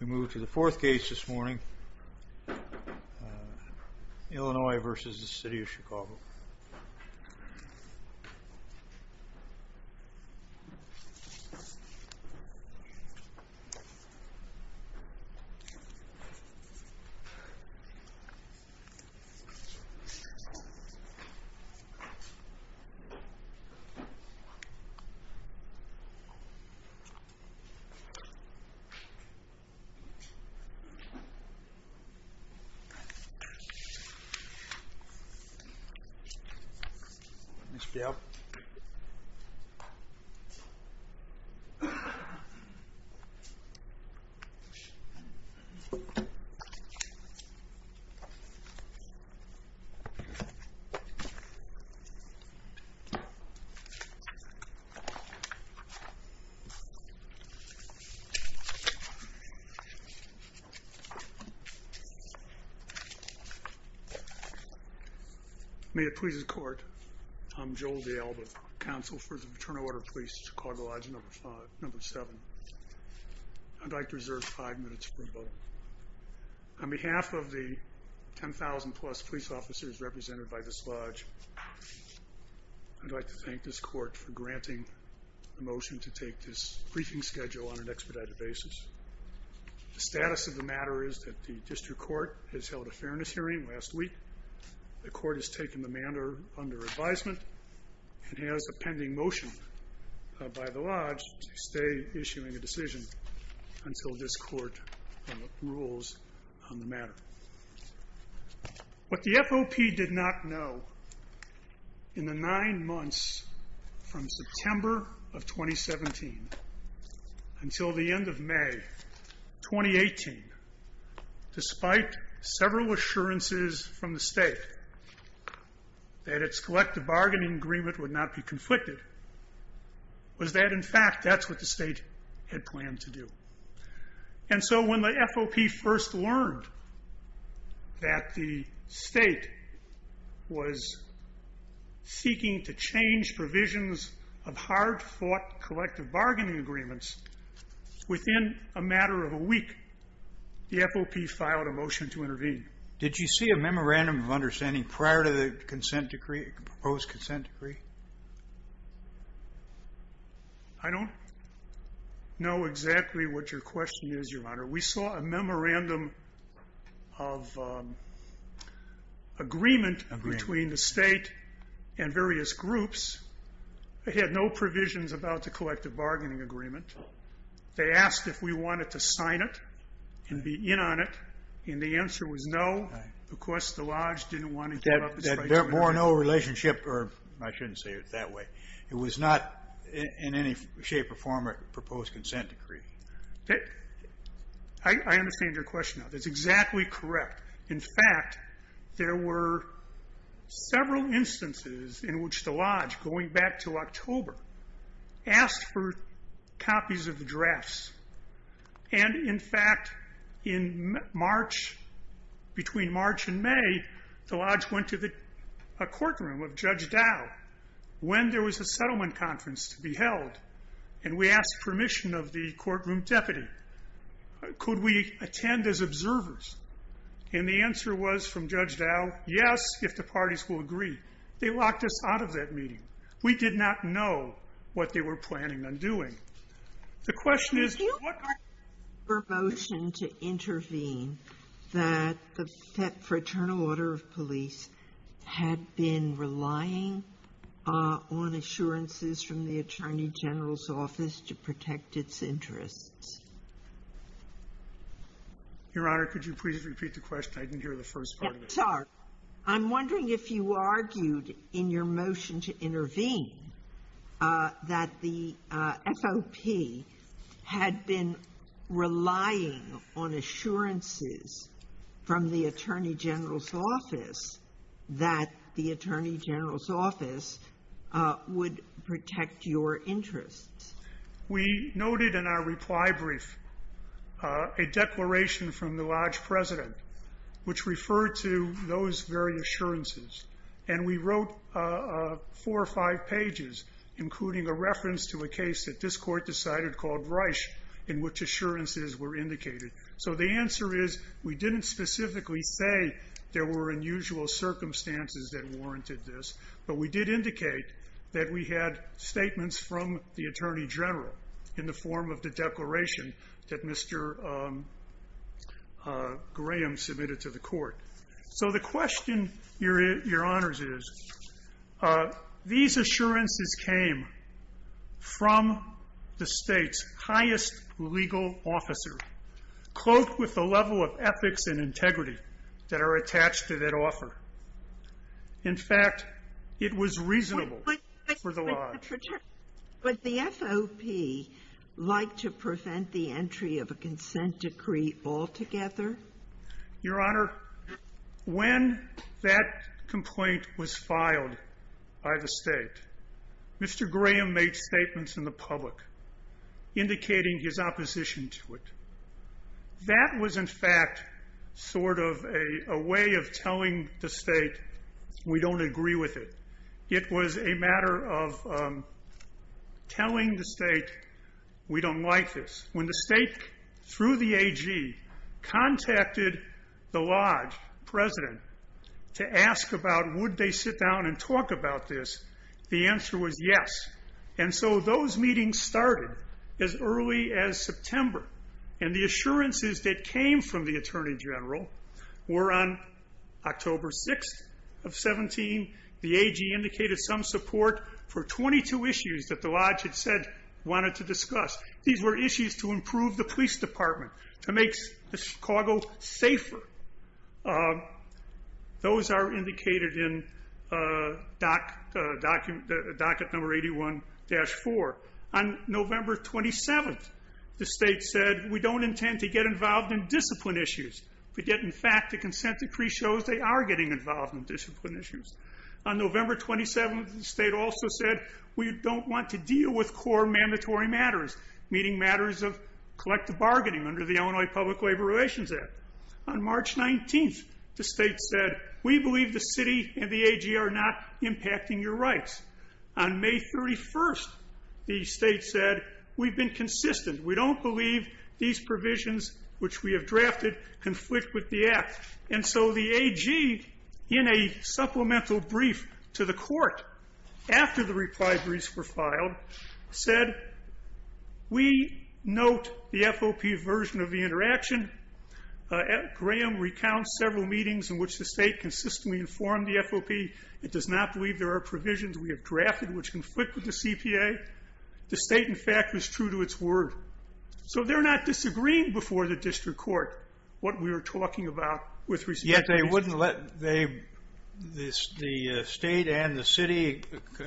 We move to the fourth case this morning, Illinois v. City of Chicago Ms. Peel May it please the court, I'm Joel D'Alba, Counsel for the Fraternal Order of Police, Chicago Lodge No. 7. I'd like to reserve five minutes for rebuttal. On behalf of the 10,000 plus police officers represented by this lodge, I'd like to thank this court for granting the motion to take this briefing schedule on an expedited basis. The status of the matter is that the district court has held a fairness hearing last week. The court has taken the matter under advisement and has a pending motion by the lodge to stay issuing a decision until this court rules on the matter. What the FOP did not know in the nine months from September of 2017 until the end of May 2018, despite several assurances from the state that its collective bargaining agreement would not be conflicted, was that in fact that's what the state had planned to do. And so when the FOP first learned that the state was seeking to change provisions of hard-fought collective bargaining agreements, within a matter of a week, the FOP filed a motion to intervene. Did you see a memorandum of understanding prior to the proposed consent decree? I don't know exactly what your question is, Your Honor. We saw a memorandum of agreement between the state and various groups. They had no provisions about the collective bargaining agreement. They asked if we wanted to sign it and be in on it, and the answer was no. Of course, the lodge didn't want to give up its right to intervene. There were no relationship, or I shouldn't say it that way. It was not in any shape or form a proposed consent decree. I understand your question. That's exactly correct. In fact, there were several instances in which the lodge, going back to October, asked for copies of the drafts. And in fact, between March and May, the lodge went to the courtroom of Judge Dow, when there was a settlement conference to be held, and we asked permission of the courtroom deputy. Could we attend as observers? And the answer was from Judge Dow, yes, if the parties will agree. They locked us out of that meeting. We did not know what they were planning on doing. The question is, what part of your motion to intervene that the Fraternal Order of Police had been relying on assurances from the Attorney General's office to protect its interests? Your Honor, could you please repeat the question? I didn't hear the first part of it. I'm sorry. I'm wondering if you argued in your motion to intervene that the FOP had been relying on assurances from the Attorney General's office that the Attorney General's office would protect your interests. We noted in our reply brief a declaration from the lodge president, which referred to those very assurances. And we wrote four or five pages, including a reference to a case that this court decided called Reich, in which assurances were indicated. So the answer is, we didn't specifically say there were unusual circumstances that warranted this, but we did indicate that we had statements from the Attorney General in the form of the declaration that Mr. Graham submitted to the court. So the question, Your Honors, is, these assurances came from the State's highest legal officer, cloaked with the level of ethics and integrity that are attached to that offer. In fact, it was reasonable for the lodge. Would the FOP like to prevent the entry of a consent decree altogether? Your Honor, when that complaint was filed by the state, Mr. Graham made statements in the public indicating his opposition to it. That was, in fact, sort of a way of telling the state, we don't agree with it. It was a matter of telling the state, we don't like this. When the state, through the AG, contacted the lodge president to ask about would they sit down and talk about this, the answer was yes. And so those meetings started as early as September. And the assurances that came from the Attorney General were on October 6th of 17. The AG indicated some support for 22 issues that the lodge had said wanted to discuss. These were issues to improve the police department, to make Chicago safer. Those are indicated in docket number 81-4. On November 27th, the state said, we don't intend to get involved in discipline issues. But yet, in fact, the consent decree shows they are getting involved in discipline issues. On November 27th, the state also said, we don't want to deal with core mandatory matters, meaning matters of collective bargaining under the Illinois Public Labor Relations Act. On March 19th, the state said, we believe the city and the AG are not impacting your rights. On May 31st, the state said, we've been consistent. We don't believe these provisions, which we have drafted, conflict with the act. And so the AG, in a supplemental brief to the court after the reply briefs were filed, said, we note the FOP version of the interaction. Graham recounts several meetings in which the state consistently informed the FOP. It does not believe there are provisions we have drafted which conflict with the CPA. The state, in fact, was true to its word. So they're not disagreeing before the district court what we were talking about with respect to these. Yet they wouldn't let the state and the city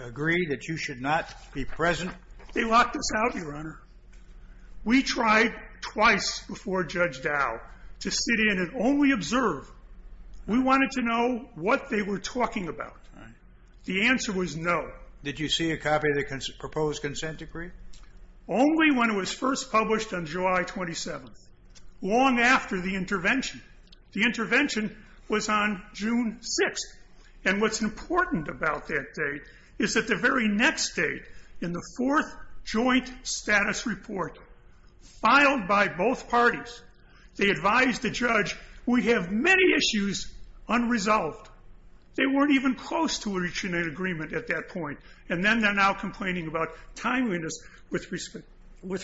agree that you should not be present? They locked us out, Your Honor. We tried twice before Judge Dow to sit in and only observe. We wanted to know what they were talking about. The answer was no. Did you see a copy of the proposed consent decree? Only when it was first published on July 27th, long after the intervention. The intervention was on June 6th. And what's important about that date is that the very next day, in the fourth joint status report filed by both parties, they advised the judge, we have many issues unresolved. They weren't even close to reaching an agreement at that point. And then they're now complaining about timeliness with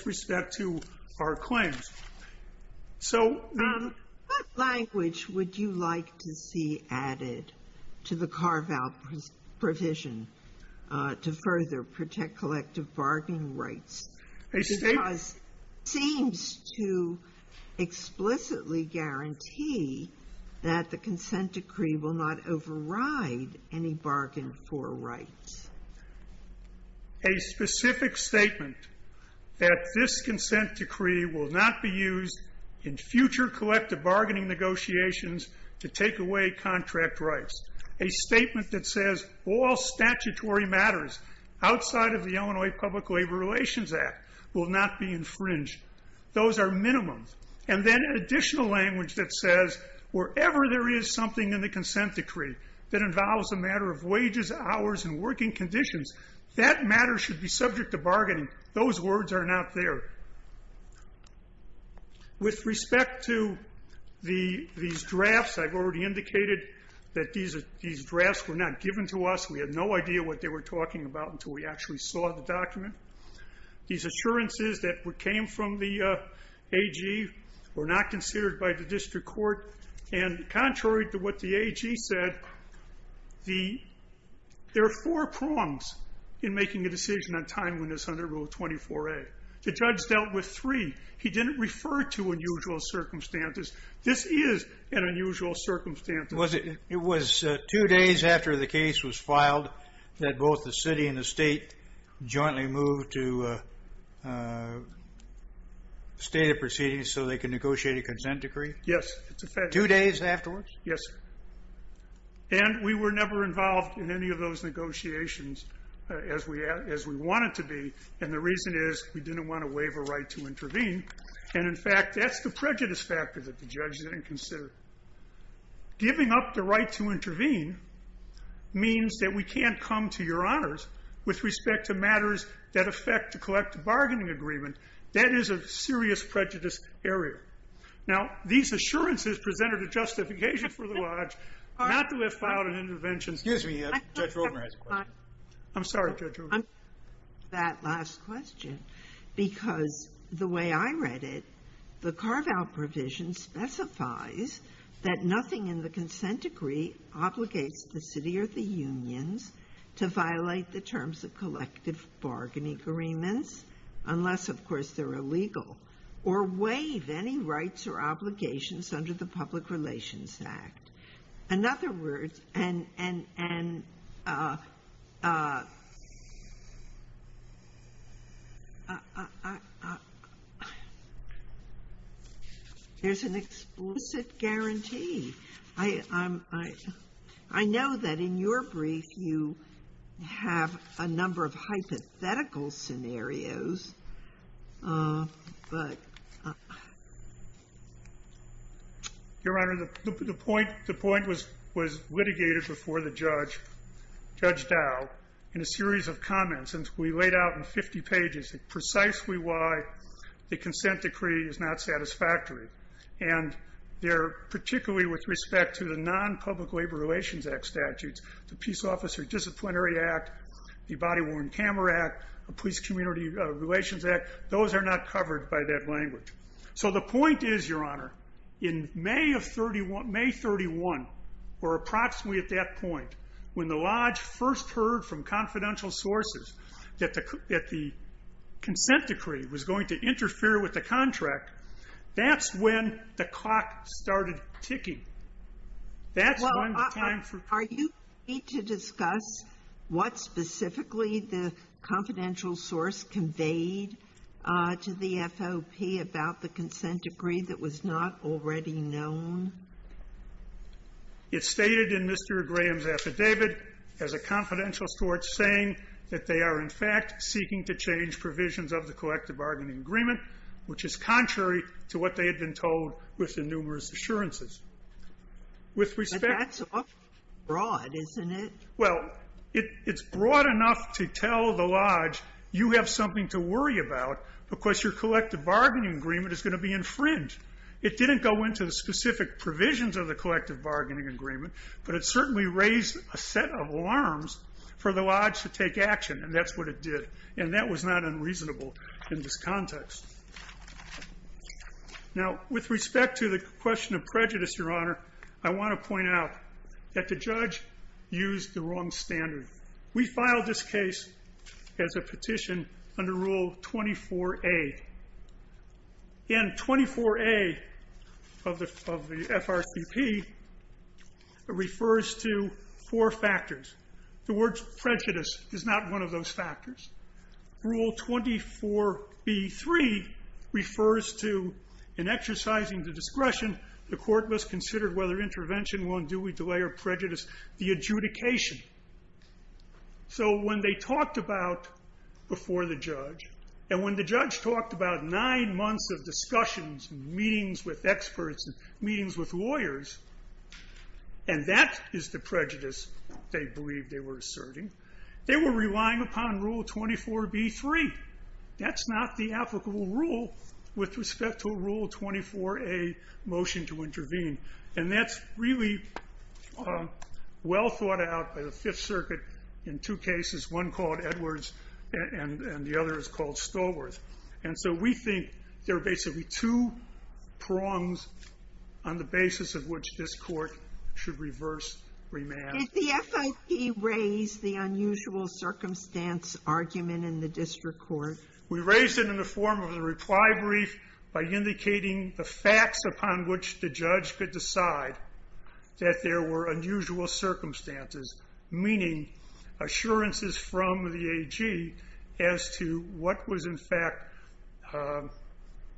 respect to our claims. So the ---- Sotomayor, what language would you like to see added to the carve-out provision to further protect collective bargaining rights? Because it seems to explicitly guarantee that the consent decree will not override any bargain for rights. A specific statement that this consent decree will not be used in future collective bargaining negotiations to take away contract rights. A statement that says all statutory matters outside of the Illinois Public Labor Relations Act will not be infringed. Those are minimums. And then an additional language that says wherever there is something in the consent decree that involves a matter of wages, hours, and working conditions, that matter should be subject to bargaining. Those words are not there. With respect to these drafts, I've already indicated that these drafts were not given to us. We had no idea what they were talking about until we actually saw the document. These assurances that came from the AG were not considered by the district court. And contrary to what the AG said, there are four prongs in making a decision on timeliness under Rule 24a. The judge dealt with three. He didn't refer to unusual circumstances. This is an unusual circumstance. It was two days after the case was filed that both the city and the state jointly moved to a state of proceedings so they could negotiate a consent decree? Yes. Two days afterwards? Yes, sir. And we were never involved in any of those negotiations as we wanted to be. And the reason is we didn't want to waive a right to intervene. And, in fact, that's the prejudice factor that the judge didn't consider. Giving up the right to intervene means that we can't come to Your Honors with respect to matters that affect the collective bargaining agreement. That is a serious prejudice area. Now, these assurances presented a justification for the lodge not to have filed an intervention. Excuse me. Judge Rotemer has a question. I'm sorry, Judge Rotemer. That last question, because the way I read it, the Carvel provision specifies that nothing in the consent decree obligates the city or the unions to violate the terms of collective bargaining agreements, unless, of course, they're illegal, or waive any rights or obligations under the Public Relations Act. In other words, and there's an explicit guarantee. I know that in your brief, you have a number of hypothetical scenarios. Your Honor, the point was litigated before the judge, Judge Dow, in a series of comments. And we laid out in 50 pages precisely why the consent decree is not satisfactory. And they're particularly with respect to the non-Public Labor Relations Act statutes, the Peace Officer Disciplinary Act, the Body-Worn Camera Act, the Police Community Relations Act. Those are not covered by that language. So the point is, Your Honor, in May of 31, or approximately at that point, when the lodge first heard from confidential sources that the consent decree was going to interfere with the contract, that's when the clock started ticking. That's when the time for ---- Are you ready to discuss what specifically the confidential source conveyed to the FOP about the consent decree that was not already known? It's stated in Mr. Graham's affidavit as a confidential source saying that they are, in fact, seeking to change provisions of the collective bargaining agreement, which is contrary to what they had been told with the numerous assurances. With respect to ---- But that's broad, isn't it? Well, it's broad enough to tell the lodge you have something to worry about because your collective bargaining agreement is going to be infringed. It didn't go into the specific provisions of the collective bargaining agreement, but it certainly raised a set of alarms for the lodge to take action, and that's what it did. And that was not unreasonable in this context. Now, with respect to the question of prejudice, Your Honor, I want to point out that the judge used the wrong standard. We filed this case as a petition under Rule 24A. And 24A of the FRCP refers to four factors. The word prejudice is not one of those factors. Rule 24B.3 refers to, in exercising the discretion, the court must consider whether intervention will unduly delay or prejudice the adjudication. So when they talked about before the judge, and when the judge talked about nine months of discussions and meetings with experts and meetings with lawyers, and that is the prejudice they believed they were asserting, they were relying upon Rule 24B.3. That's not the applicable rule with respect to Rule 24A, motion to intervene. And that's really well thought out by the Fifth Circuit in two cases, one called Edwards and the other is called Stallworth. And so we think there are basically two prongs on the basis of which this court should reverse remand. Sotomayor, did the FIP raise the unusual circumstance argument in the district court? We raised it in the form of the reply brief by indicating the facts upon which the judge could decide that there were unusual circumstances, meaning assurances from the AG as to what was in fact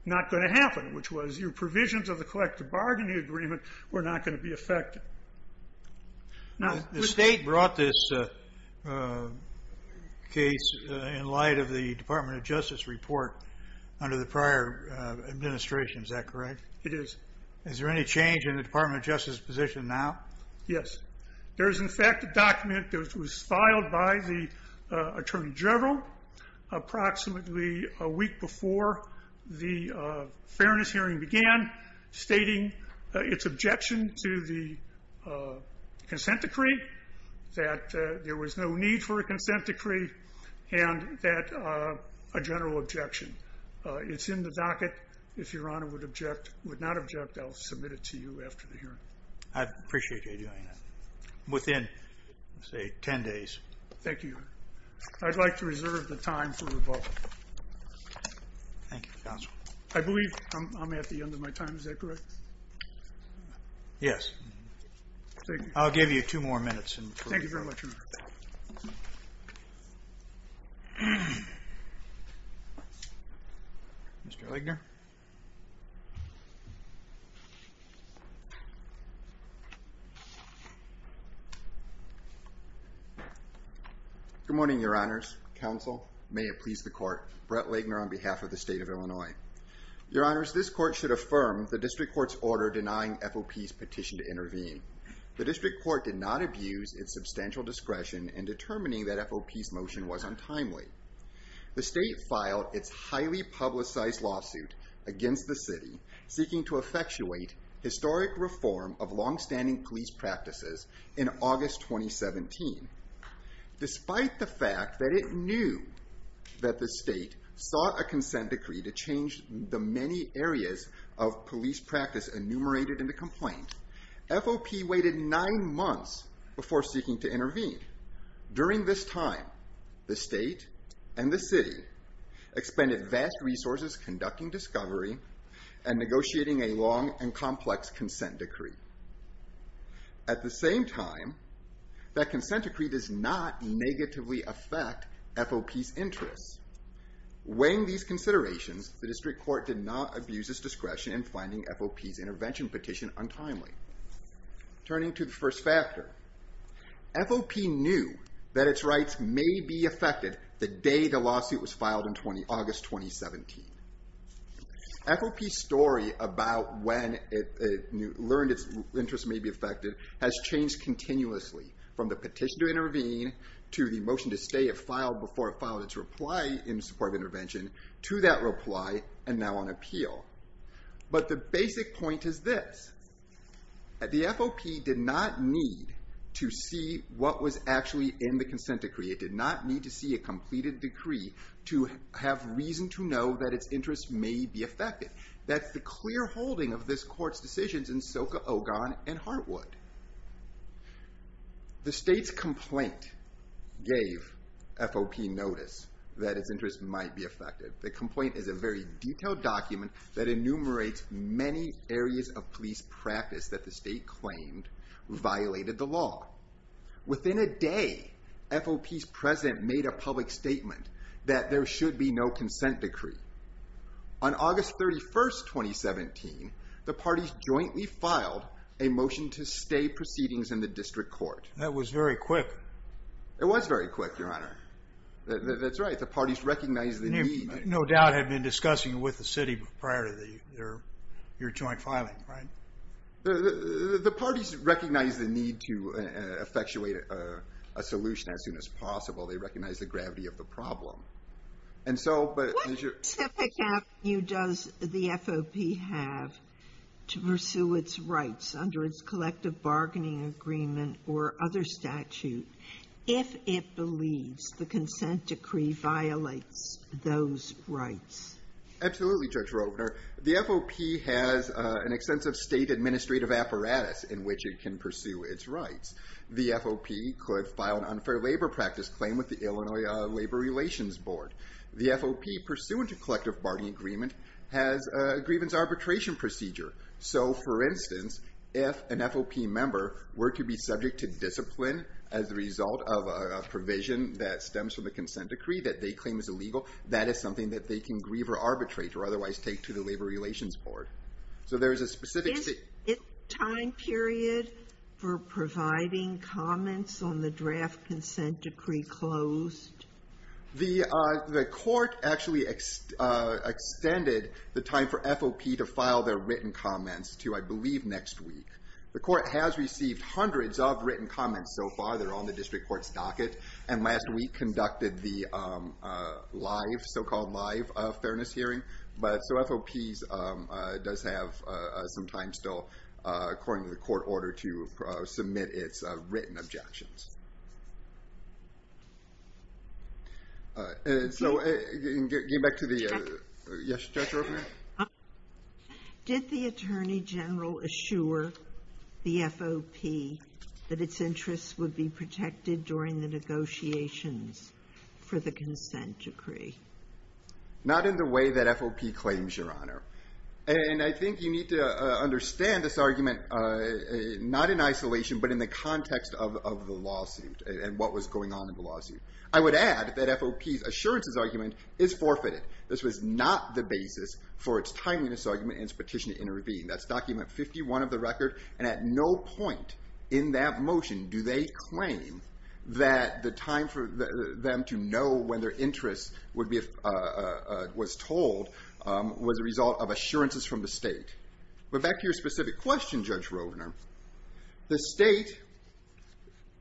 not going to happen, which was your provisions of the collective bargaining agreement were not going to be affected. The state brought this case in light of the Department of Justice report under the prior administration, is that correct? It is. Is there any change in the Department of Justice position now? Yes. There is, in fact, a document that was filed by the Attorney General approximately a week before the fairness hearing began stating its objection to the consent decree, that there was no need for a consent decree, and that a general objection. It's in the docket. If Your Honor would object, would not object, I'll submit it to you after the hearing. I'd appreciate you doing that, within, say, 10 days. Thank you, Your Honor. I'd like to reserve the time for rebuttal. Thank you, counsel. I believe I'm at the end of my time, is that correct? Yes. I'll give you two more minutes. Thank you very much, Your Honor. Mr. Legner. Good morning, Your Honors. Counsel, may it please the court. Brett Legner on behalf of the state of Illinois. Your Honors, this court should affirm the district court's order denying FOP's petition to intervene. The district court did not abuse its substantial discretion in determining that FOP's motion was untimely. The state filed its highly publicized lawsuit against the city seeking to effectuate historic reform of longstanding police practices in August 2017. Despite the fact that it knew that the state sought a consent decree to change the many areas of police practice enumerated in the complaint, FOP waited nine months before seeking to intervene. During this time, the state and the city expended vast resources conducting discovery and negotiating a long and complex consent decree. At the same time, that consent decree does not negatively affect FOP's interests. Weighing these considerations, the district court did not abuse its discretion in finding FOP's intervention petition untimely. Turning to the first factor, FOP knew that its rights may be affected the day the lawsuit was filed in August 2017. FOP's story about when it learned its interests may be affected has changed continuously from the petition to intervene to the motion to stay if filed before it filed its reply in support of intervention to that reply and now on appeal. But the basic point is this. The FOP did not need to see what was actually in the consent decree. It did not need to see a completed decree to have reason to know that its interests may be affected. That's the clear holding of this court's decisions in Soka, Ogon, and Heartwood. The state's complaint gave FOP notice that its interests might be affected. The complaint is a very detailed document that enumerates many areas of police practice that the state claimed violated the law. Within a day, FOP's president made a public statement that there should be no consent decree. On August 31, 2017, the parties jointly filed a motion to stay proceedings in the district court. That was very quick. It was very quick, Your Honor. That's right. The parties recognized the need. No doubt had been discussing with the city prior to your joint filing, right? The parties recognized the need to effectuate a solution as soon as possible. They recognized the gravity of the problem. What specific value does the FOP have to pursue its rights under its collective bargaining agreement or other statute if it believes the consent decree violates those rights? Absolutely, Judge Rovner. The FOP has an extensive state administrative apparatus in which it can pursue its rights. The FOP could file an unfair labor practice claim with the Illinois Labor Relations Board. The FOP, pursuant to collective bargaining agreement, has a grievance arbitration procedure. So, for instance, if an FOP member were to be subject to discipline as a result of a provision that stems from the consent decree that they claim is illegal, that is something that they can grieve or arbitrate or otherwise take to the Labor Relations Board. So there is a specific... Is it time period for providing comments on the draft consent decree closed? The court actually extended the time for FOP to file their written comments to, I believe, next week. The court has received hundreds of written comments so far. They're on the district court's docket. And last week conducted the so-called live fairness hearing. So FOP does have some time still, according to the court order, to submit its written objections. So getting back to the... Yes, Judge Ruffin? Did the Attorney General assure the FOP that its interests would be protected during the negotiations for the consent decree? Not in the way that FOP claims, Your Honor. And I think you need to understand this argument not in isolation but in the context of the lawsuit and what was going on in the lawsuit. I would add that FOP's assurances argument is forfeited. This was not the basis for its timeliness argument and its petition to intervene. That's document 51 of the record. And at no point in that motion do they claim that the time for them to know when their interest was told was a result of assurances from the state. But back to your specific question, Judge Rovner, the state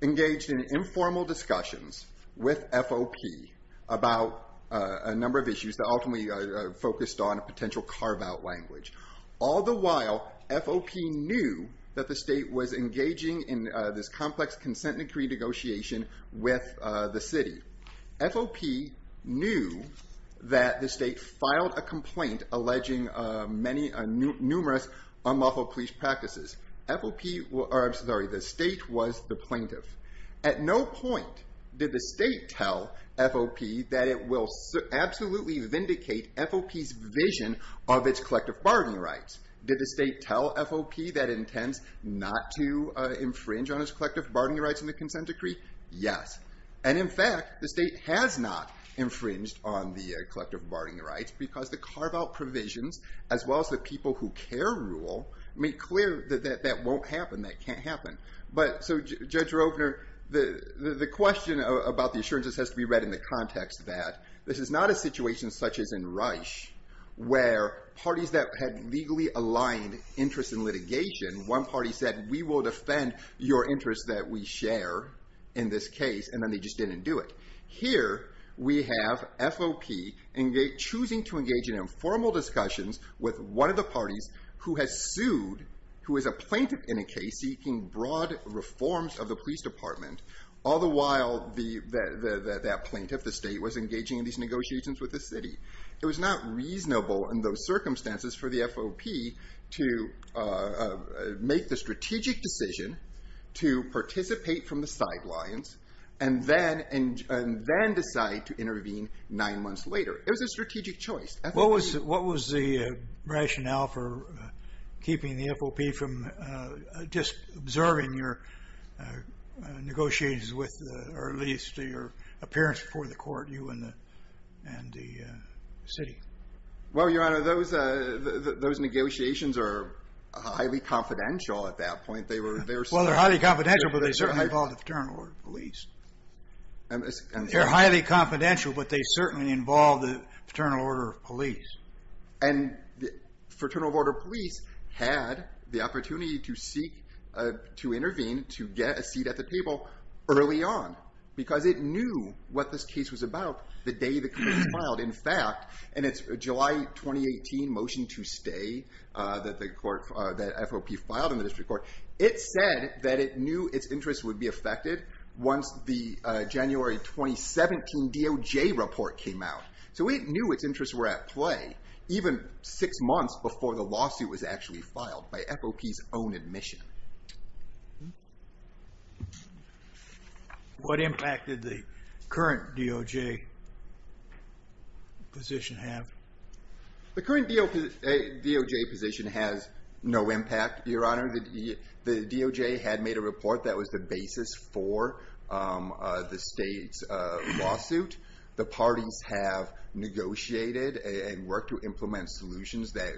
engaged in informal discussions with FOP about a number of issues that ultimately focused on a potential carve-out language. All the while, FOP knew that the state was engaging in this complex consent decree negotiation with the city. FOP knew that the state filed a complaint alleging numerous unlawful police practices. The state was the plaintiff. At no point did the state tell FOP that it will absolutely vindicate FOP's vision of its collective bargaining rights. Did the state tell FOP that it intends not to infringe on its collective bargaining rights in the consent decree? Yes. And, in fact, the state has not infringed on the collective bargaining rights because the carve-out provisions, as well as the people who care rule, made clear that that won't happen. That can't happen. But, so, Judge Rovner, the question about the assurances has to be read in the context that this is not a situation such as in Reich where parties that had legally aligned interests in litigation, one party said, we will defend your interests that we share in this case, and then they just didn't do it. Here, we have FOP choosing to engage in informal discussions with one of the parties who has sued, who is a plaintiff in a case seeking broad reforms of the police department, all the while that plaintiff, the state, was engaging in these negotiations with the city. It was not reasonable in those circumstances for the FOP to make the strategic decision to participate from the sidelines and then decide to intervene nine months later. It was a strategic choice. What was the rationale for keeping the FOP from just observing your negotiations with, or at least your appearance before the court, you and the city? Well, Your Honor, those negotiations are highly confidential at that point. Well, they're highly confidential, but they certainly involve the paternal order of police. They're highly confidential, but they certainly involve the paternal order of police. And the fraternal order of police had the opportunity to seek, to intervene, to get a seat at the table early on because it knew what this case was about the day the committee filed. In fact, in its July 2018 motion to stay that FOP filed in the district court, it said that it knew its interests would be affected once the January 2017 DOJ report came out. So it knew its interests were at play even six months before the lawsuit was actually filed by FOP's own admission. What impact did the current DOJ position have? The current DOJ position has no impact, Your Honor. The DOJ had made a report that was the basis for the state's lawsuit. The parties have negotiated and worked to implement solutions that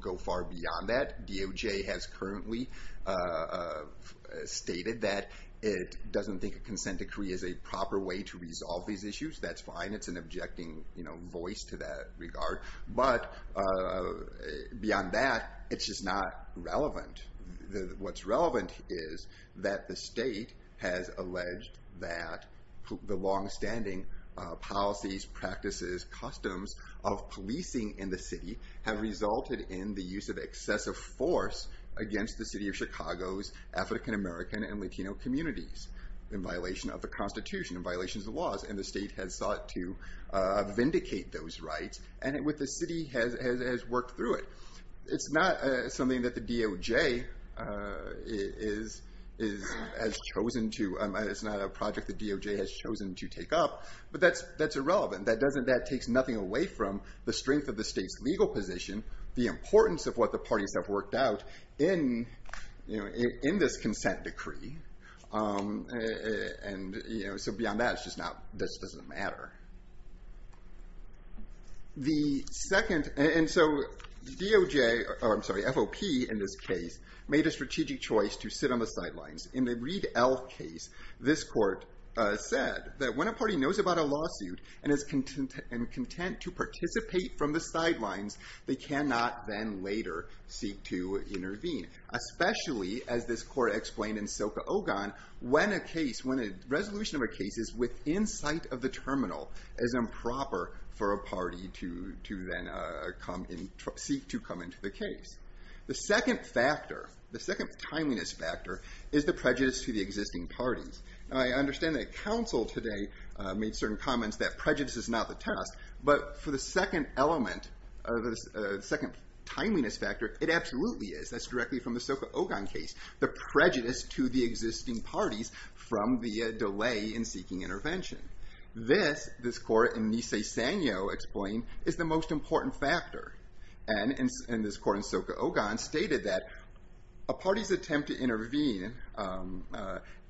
go far beyond that. DOJ has currently stated that it doesn't think a consent decree is a proper way to resolve these issues. That's fine. It's an objecting voice to that regard. But beyond that, it's just not relevant. What's relevant is that the state has alleged that the longstanding policies, practices, customs of policing in the city have resulted in the use of excessive force against the city of Chicago's African-American and Latino communities in violation of the Constitution and violations of the laws. And the state has sought to vindicate those rights. And the city has worked through it. It's not something that the DOJ has chosen to... It's not a project the DOJ has chosen to take up. But that's irrelevant. That takes nothing away from the strength of the state's legal position, the importance of what the parties have worked out in this consent decree. And so beyond that, it's just not... This doesn't matter. The second... And so DOJ, or I'm sorry, FOP in this case, made a strategic choice to sit on the sidelines. In the Reed-Elf case, this court said that when a party knows about a lawsuit and is content to participate from the sidelines, they cannot then later seek to intervene. Especially, as this court explained in Soka Ogon, when a case, when a resolution of a case is within sight of the terminal, it is improper for a party to then seek to come into the case. The second factor, the second timeliness factor, is the prejudice to the existing parties. Now, I understand that counsel today made certain comments that prejudice is not the test. But for the second element, the second timeliness factor, it absolutely is. That's directly from the Soka Ogon case. The prejudice to the existing parties from the delay in seeking intervention. This, this court in Nisei Sanyo explained, is the most important factor. And this court in Soka Ogon stated that a party's attempt to intervene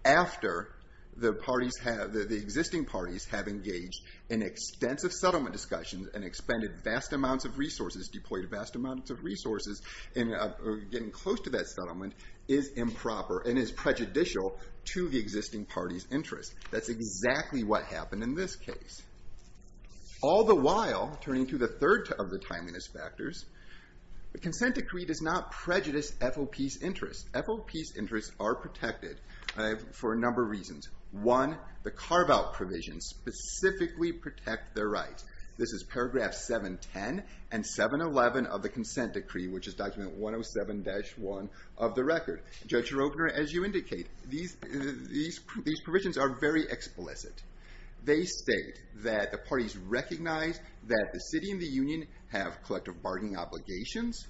after the parties have, the existing parties have engaged in extensive settlement discussions and expended vast amounts of resources, deployed vast amounts of resources in getting close to that settlement, is improper and is prejudicial to the existing party's interest. That's exactly what happened in this case. All the while, turning to the third of the timeliness factors, the consent decree does not prejudice FOP's interests. FOP's interests are protected for a number of reasons. One, the carve-out provisions specifically protect their rights. This is paragraph 710 and 711 of the consent decree, which is document 107-1 of the record. Judge Schroeder, as you indicate, these, these, these provisions are very explicit. They state that the parties recognize that the city and the union have collective bargaining obligations.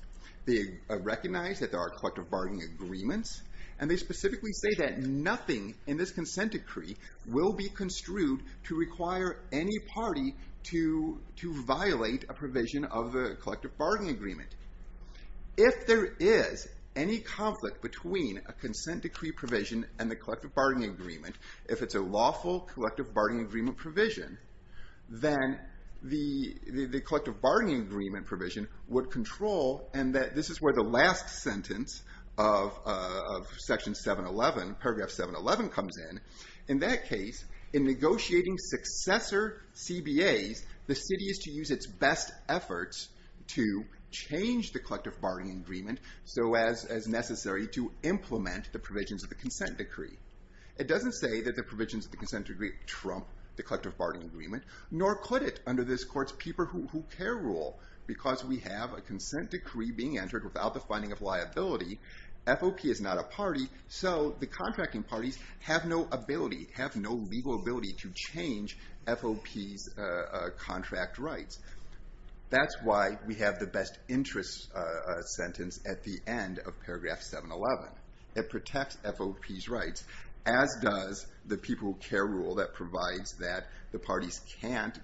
They recognize that there are collective bargaining agreements. And they specifically say that nothing in this consent decree will be construed to require any party to, to violate a provision of the collective bargaining agreement. If there is any conflict between a consent decree provision and the collective bargaining agreement, if it's a lawful collective bargaining agreement provision, then the, the, the collective bargaining agreement provision would control, and that this is where the last sentence of, of section 711, paragraph 711 comes in. In that case, in negotiating successor CBAs, the city is to use its best efforts to change the collective bargaining agreement so as, as necessary to implement the provisions of the consent decree. It doesn't say that the provisions of the consent decree trump the collective bargaining agreement, nor could it under this court's people who, who care rule. Because we have a consent decree being entered without the finding of liability, FOP is not a party, so the contracting parties have no ability, have no legal ability to change FOP's contract rights. That's why we have the best interest sentence at the end of paragraph 711. It protects FOP's rights, as does the people who care rule that provides that the parties can't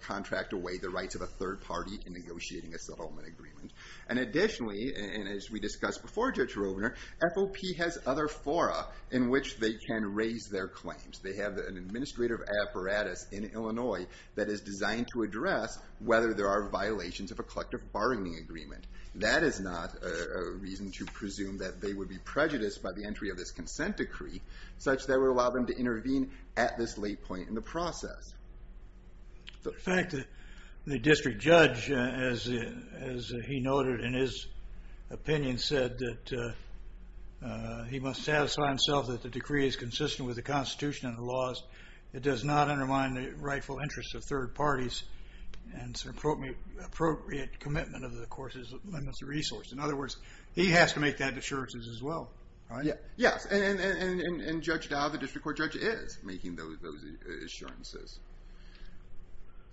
contract away the rights of a third party in negotiating a settlement agreement. And additionally, and as we discussed before, Judge Rovner, FOP has other fora in which they can raise their claims. They have an administrative apparatus in Illinois that is designed to address whether there are violations of a collective bargaining agreement. That is not a reason to presume that they would be prejudiced by the entry of this consent decree, such that would allow them to intervene at this late point in the process. In fact, the district judge, as he noted in his opinion, said that he must satisfy himself that the decree is consistent with the Constitution and the laws. It does not undermine the rightful interests of third parties and appropriate commitment of the court's limits of resource. In other words, he has to make that assurance as well, right? Yes. And Judge Dowd, the district court judge, is making those assurances.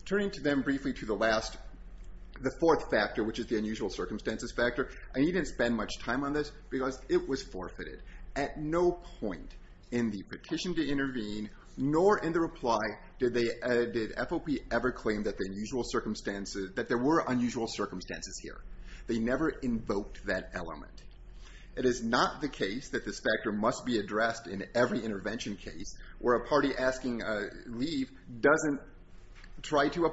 Turning to them briefly to the fourth factor, which is the unusual circumstances factor. I needn't spend much time on this because it was forfeited. At no point in the petition to intervene, nor in the reply, did FOP ever claim that there were unusual circumstances here. They never invoked that element. It is not the case that this factor must be addressed in every intervention case where a party asking leave doesn't try to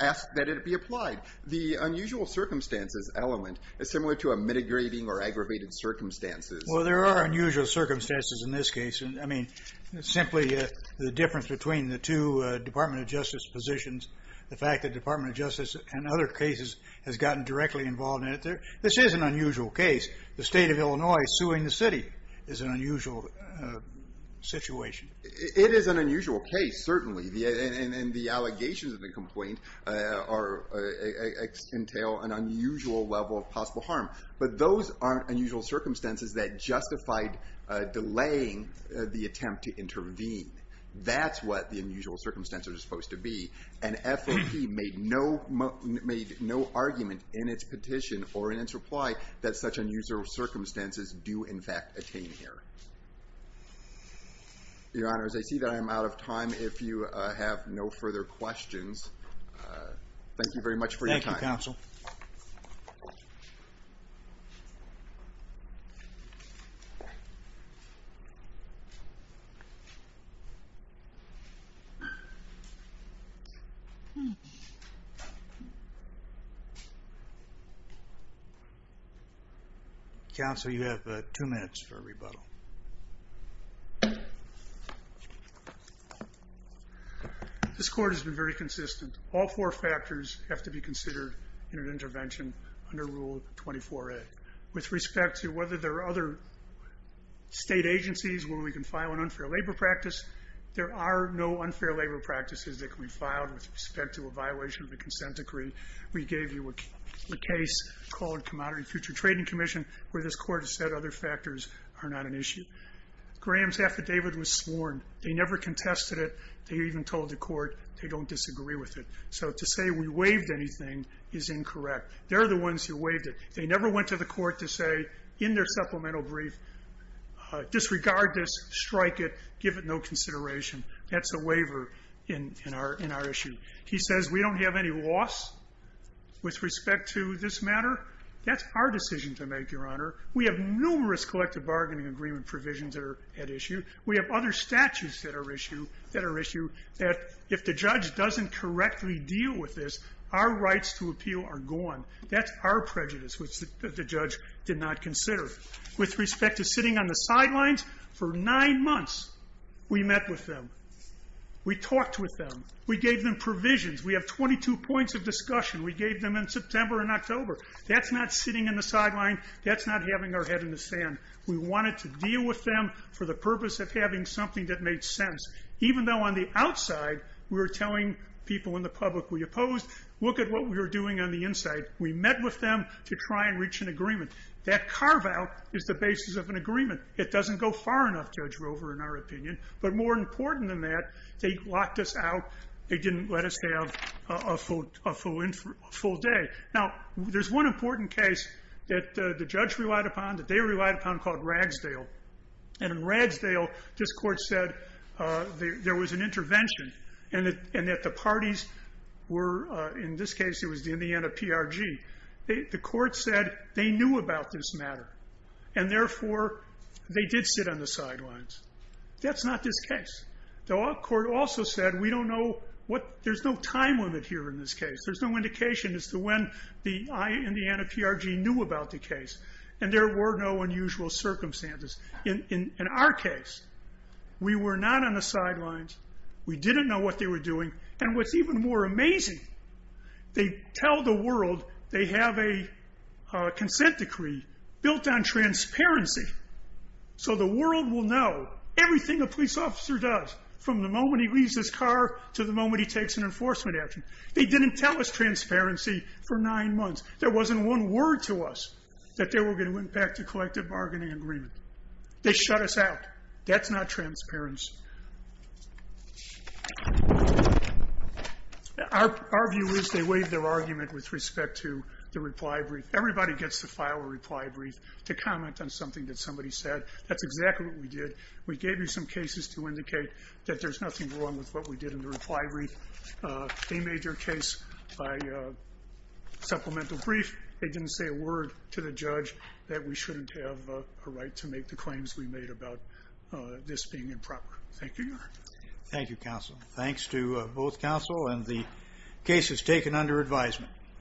ask that it be applied. The unusual circumstances element is similar to a mitigating or aggravated circumstances. Well, there are unusual circumstances in this case. I mean, simply the difference between the two Department of Justice positions, the fact that Department of Justice in other cases has gotten directly involved in it. This is an unusual case. The state of Illinois suing the city is an unusual situation. It is an unusual case, certainly. And the allegations of the complaint entail an unusual level of possible harm. But those are unusual circumstances that justified delaying the attempt to intervene. That's what the unusual circumstances are supposed to be. And FOP made no argument in its petition or in its reply that such unusual circumstances do, in fact, attain here. Your Honors, I see that I am out of time. If you have no further questions, thank you very much for your time. Thank you, Counsel. Counsel, you have two minutes for a rebuttal. This Court has been very consistent. All four factors have to be considered in an intervention under Rule 24A. With respect to whether there are other state agencies where we can file an unfair labor practice, there are no unfair labor practices that can be filed with respect to a violation of a consent decree. We gave you a case called Commodity Future Trading Commission where this Court has said other factors are not an issue. Graham's affidavit was sworn. They never contested it. They even told the Court they don't disagree with it. So to say we waived anything is incorrect. They're the ones who waived it. They never went to the Court to say, in their supplemental brief, disregard this, strike it, give it no consideration. That's a waiver in our issue. He says we don't have any loss with respect to this matter. That's our decision to make, Your Honor. We have numerous collective bargaining agreement provisions that are at issue. We have other statutes that are at issue that if the judge doesn't correctly deal with this, our rights to appeal are gone. That's our prejudice, which the judge did not consider. With respect to sitting on the sidelines, for nine months we met with them. We talked with them. We gave them provisions. We have 22 points of discussion. We gave them in September and October. That's not sitting on the sidelines. That's not having our head in the sand. We wanted to deal with them for the purpose of having something that made sense. Even though on the outside we were telling people in the public we opposed, look at what we were doing on the inside. We met with them to try and reach an agreement. That carve-out is the basis of an agreement. It doesn't go far enough, Judge Rover, in our opinion. But more important than that, they locked us out. They didn't let us have a full day. Now, there's one important case that the judge relied upon, that they relied upon, called Ragsdale. In Ragsdale, this court said there was an intervention and that the parties were, in this case, it was the Indiana PRG. The court said they knew about this matter, and therefore they did sit on the sidelines. That's not this case. The court also said we don't know what, there's no time limit here in this case. There's no indication as to when the Indiana PRG knew about the case, and there were no unusual circumstances. In our case, we were not on the sidelines. We didn't know what they were doing. And what's even more amazing, they tell the world they have a consent decree built on transparency. So the world will know everything a police officer does from the moment he leaves his car to the moment he takes an enforcement action. They didn't tell us transparency for nine months. There wasn't one word to us that they were going to impact a collective bargaining agreement. They shut us out. That's not transparency. Our view is they waived their argument with respect to the reply brief. Everybody gets to file a reply brief to comment on something that somebody said. That's exactly what we did. We gave you some cases to indicate that there's nothing wrong with what we did in the reply brief. They made their case by supplemental brief. They didn't say a word to the judge that we shouldn't have a right to make the claims we made about this being improper. Thank you, Your Honor. Thank you, counsel. Thanks to both counsel and the cases taken under advisement.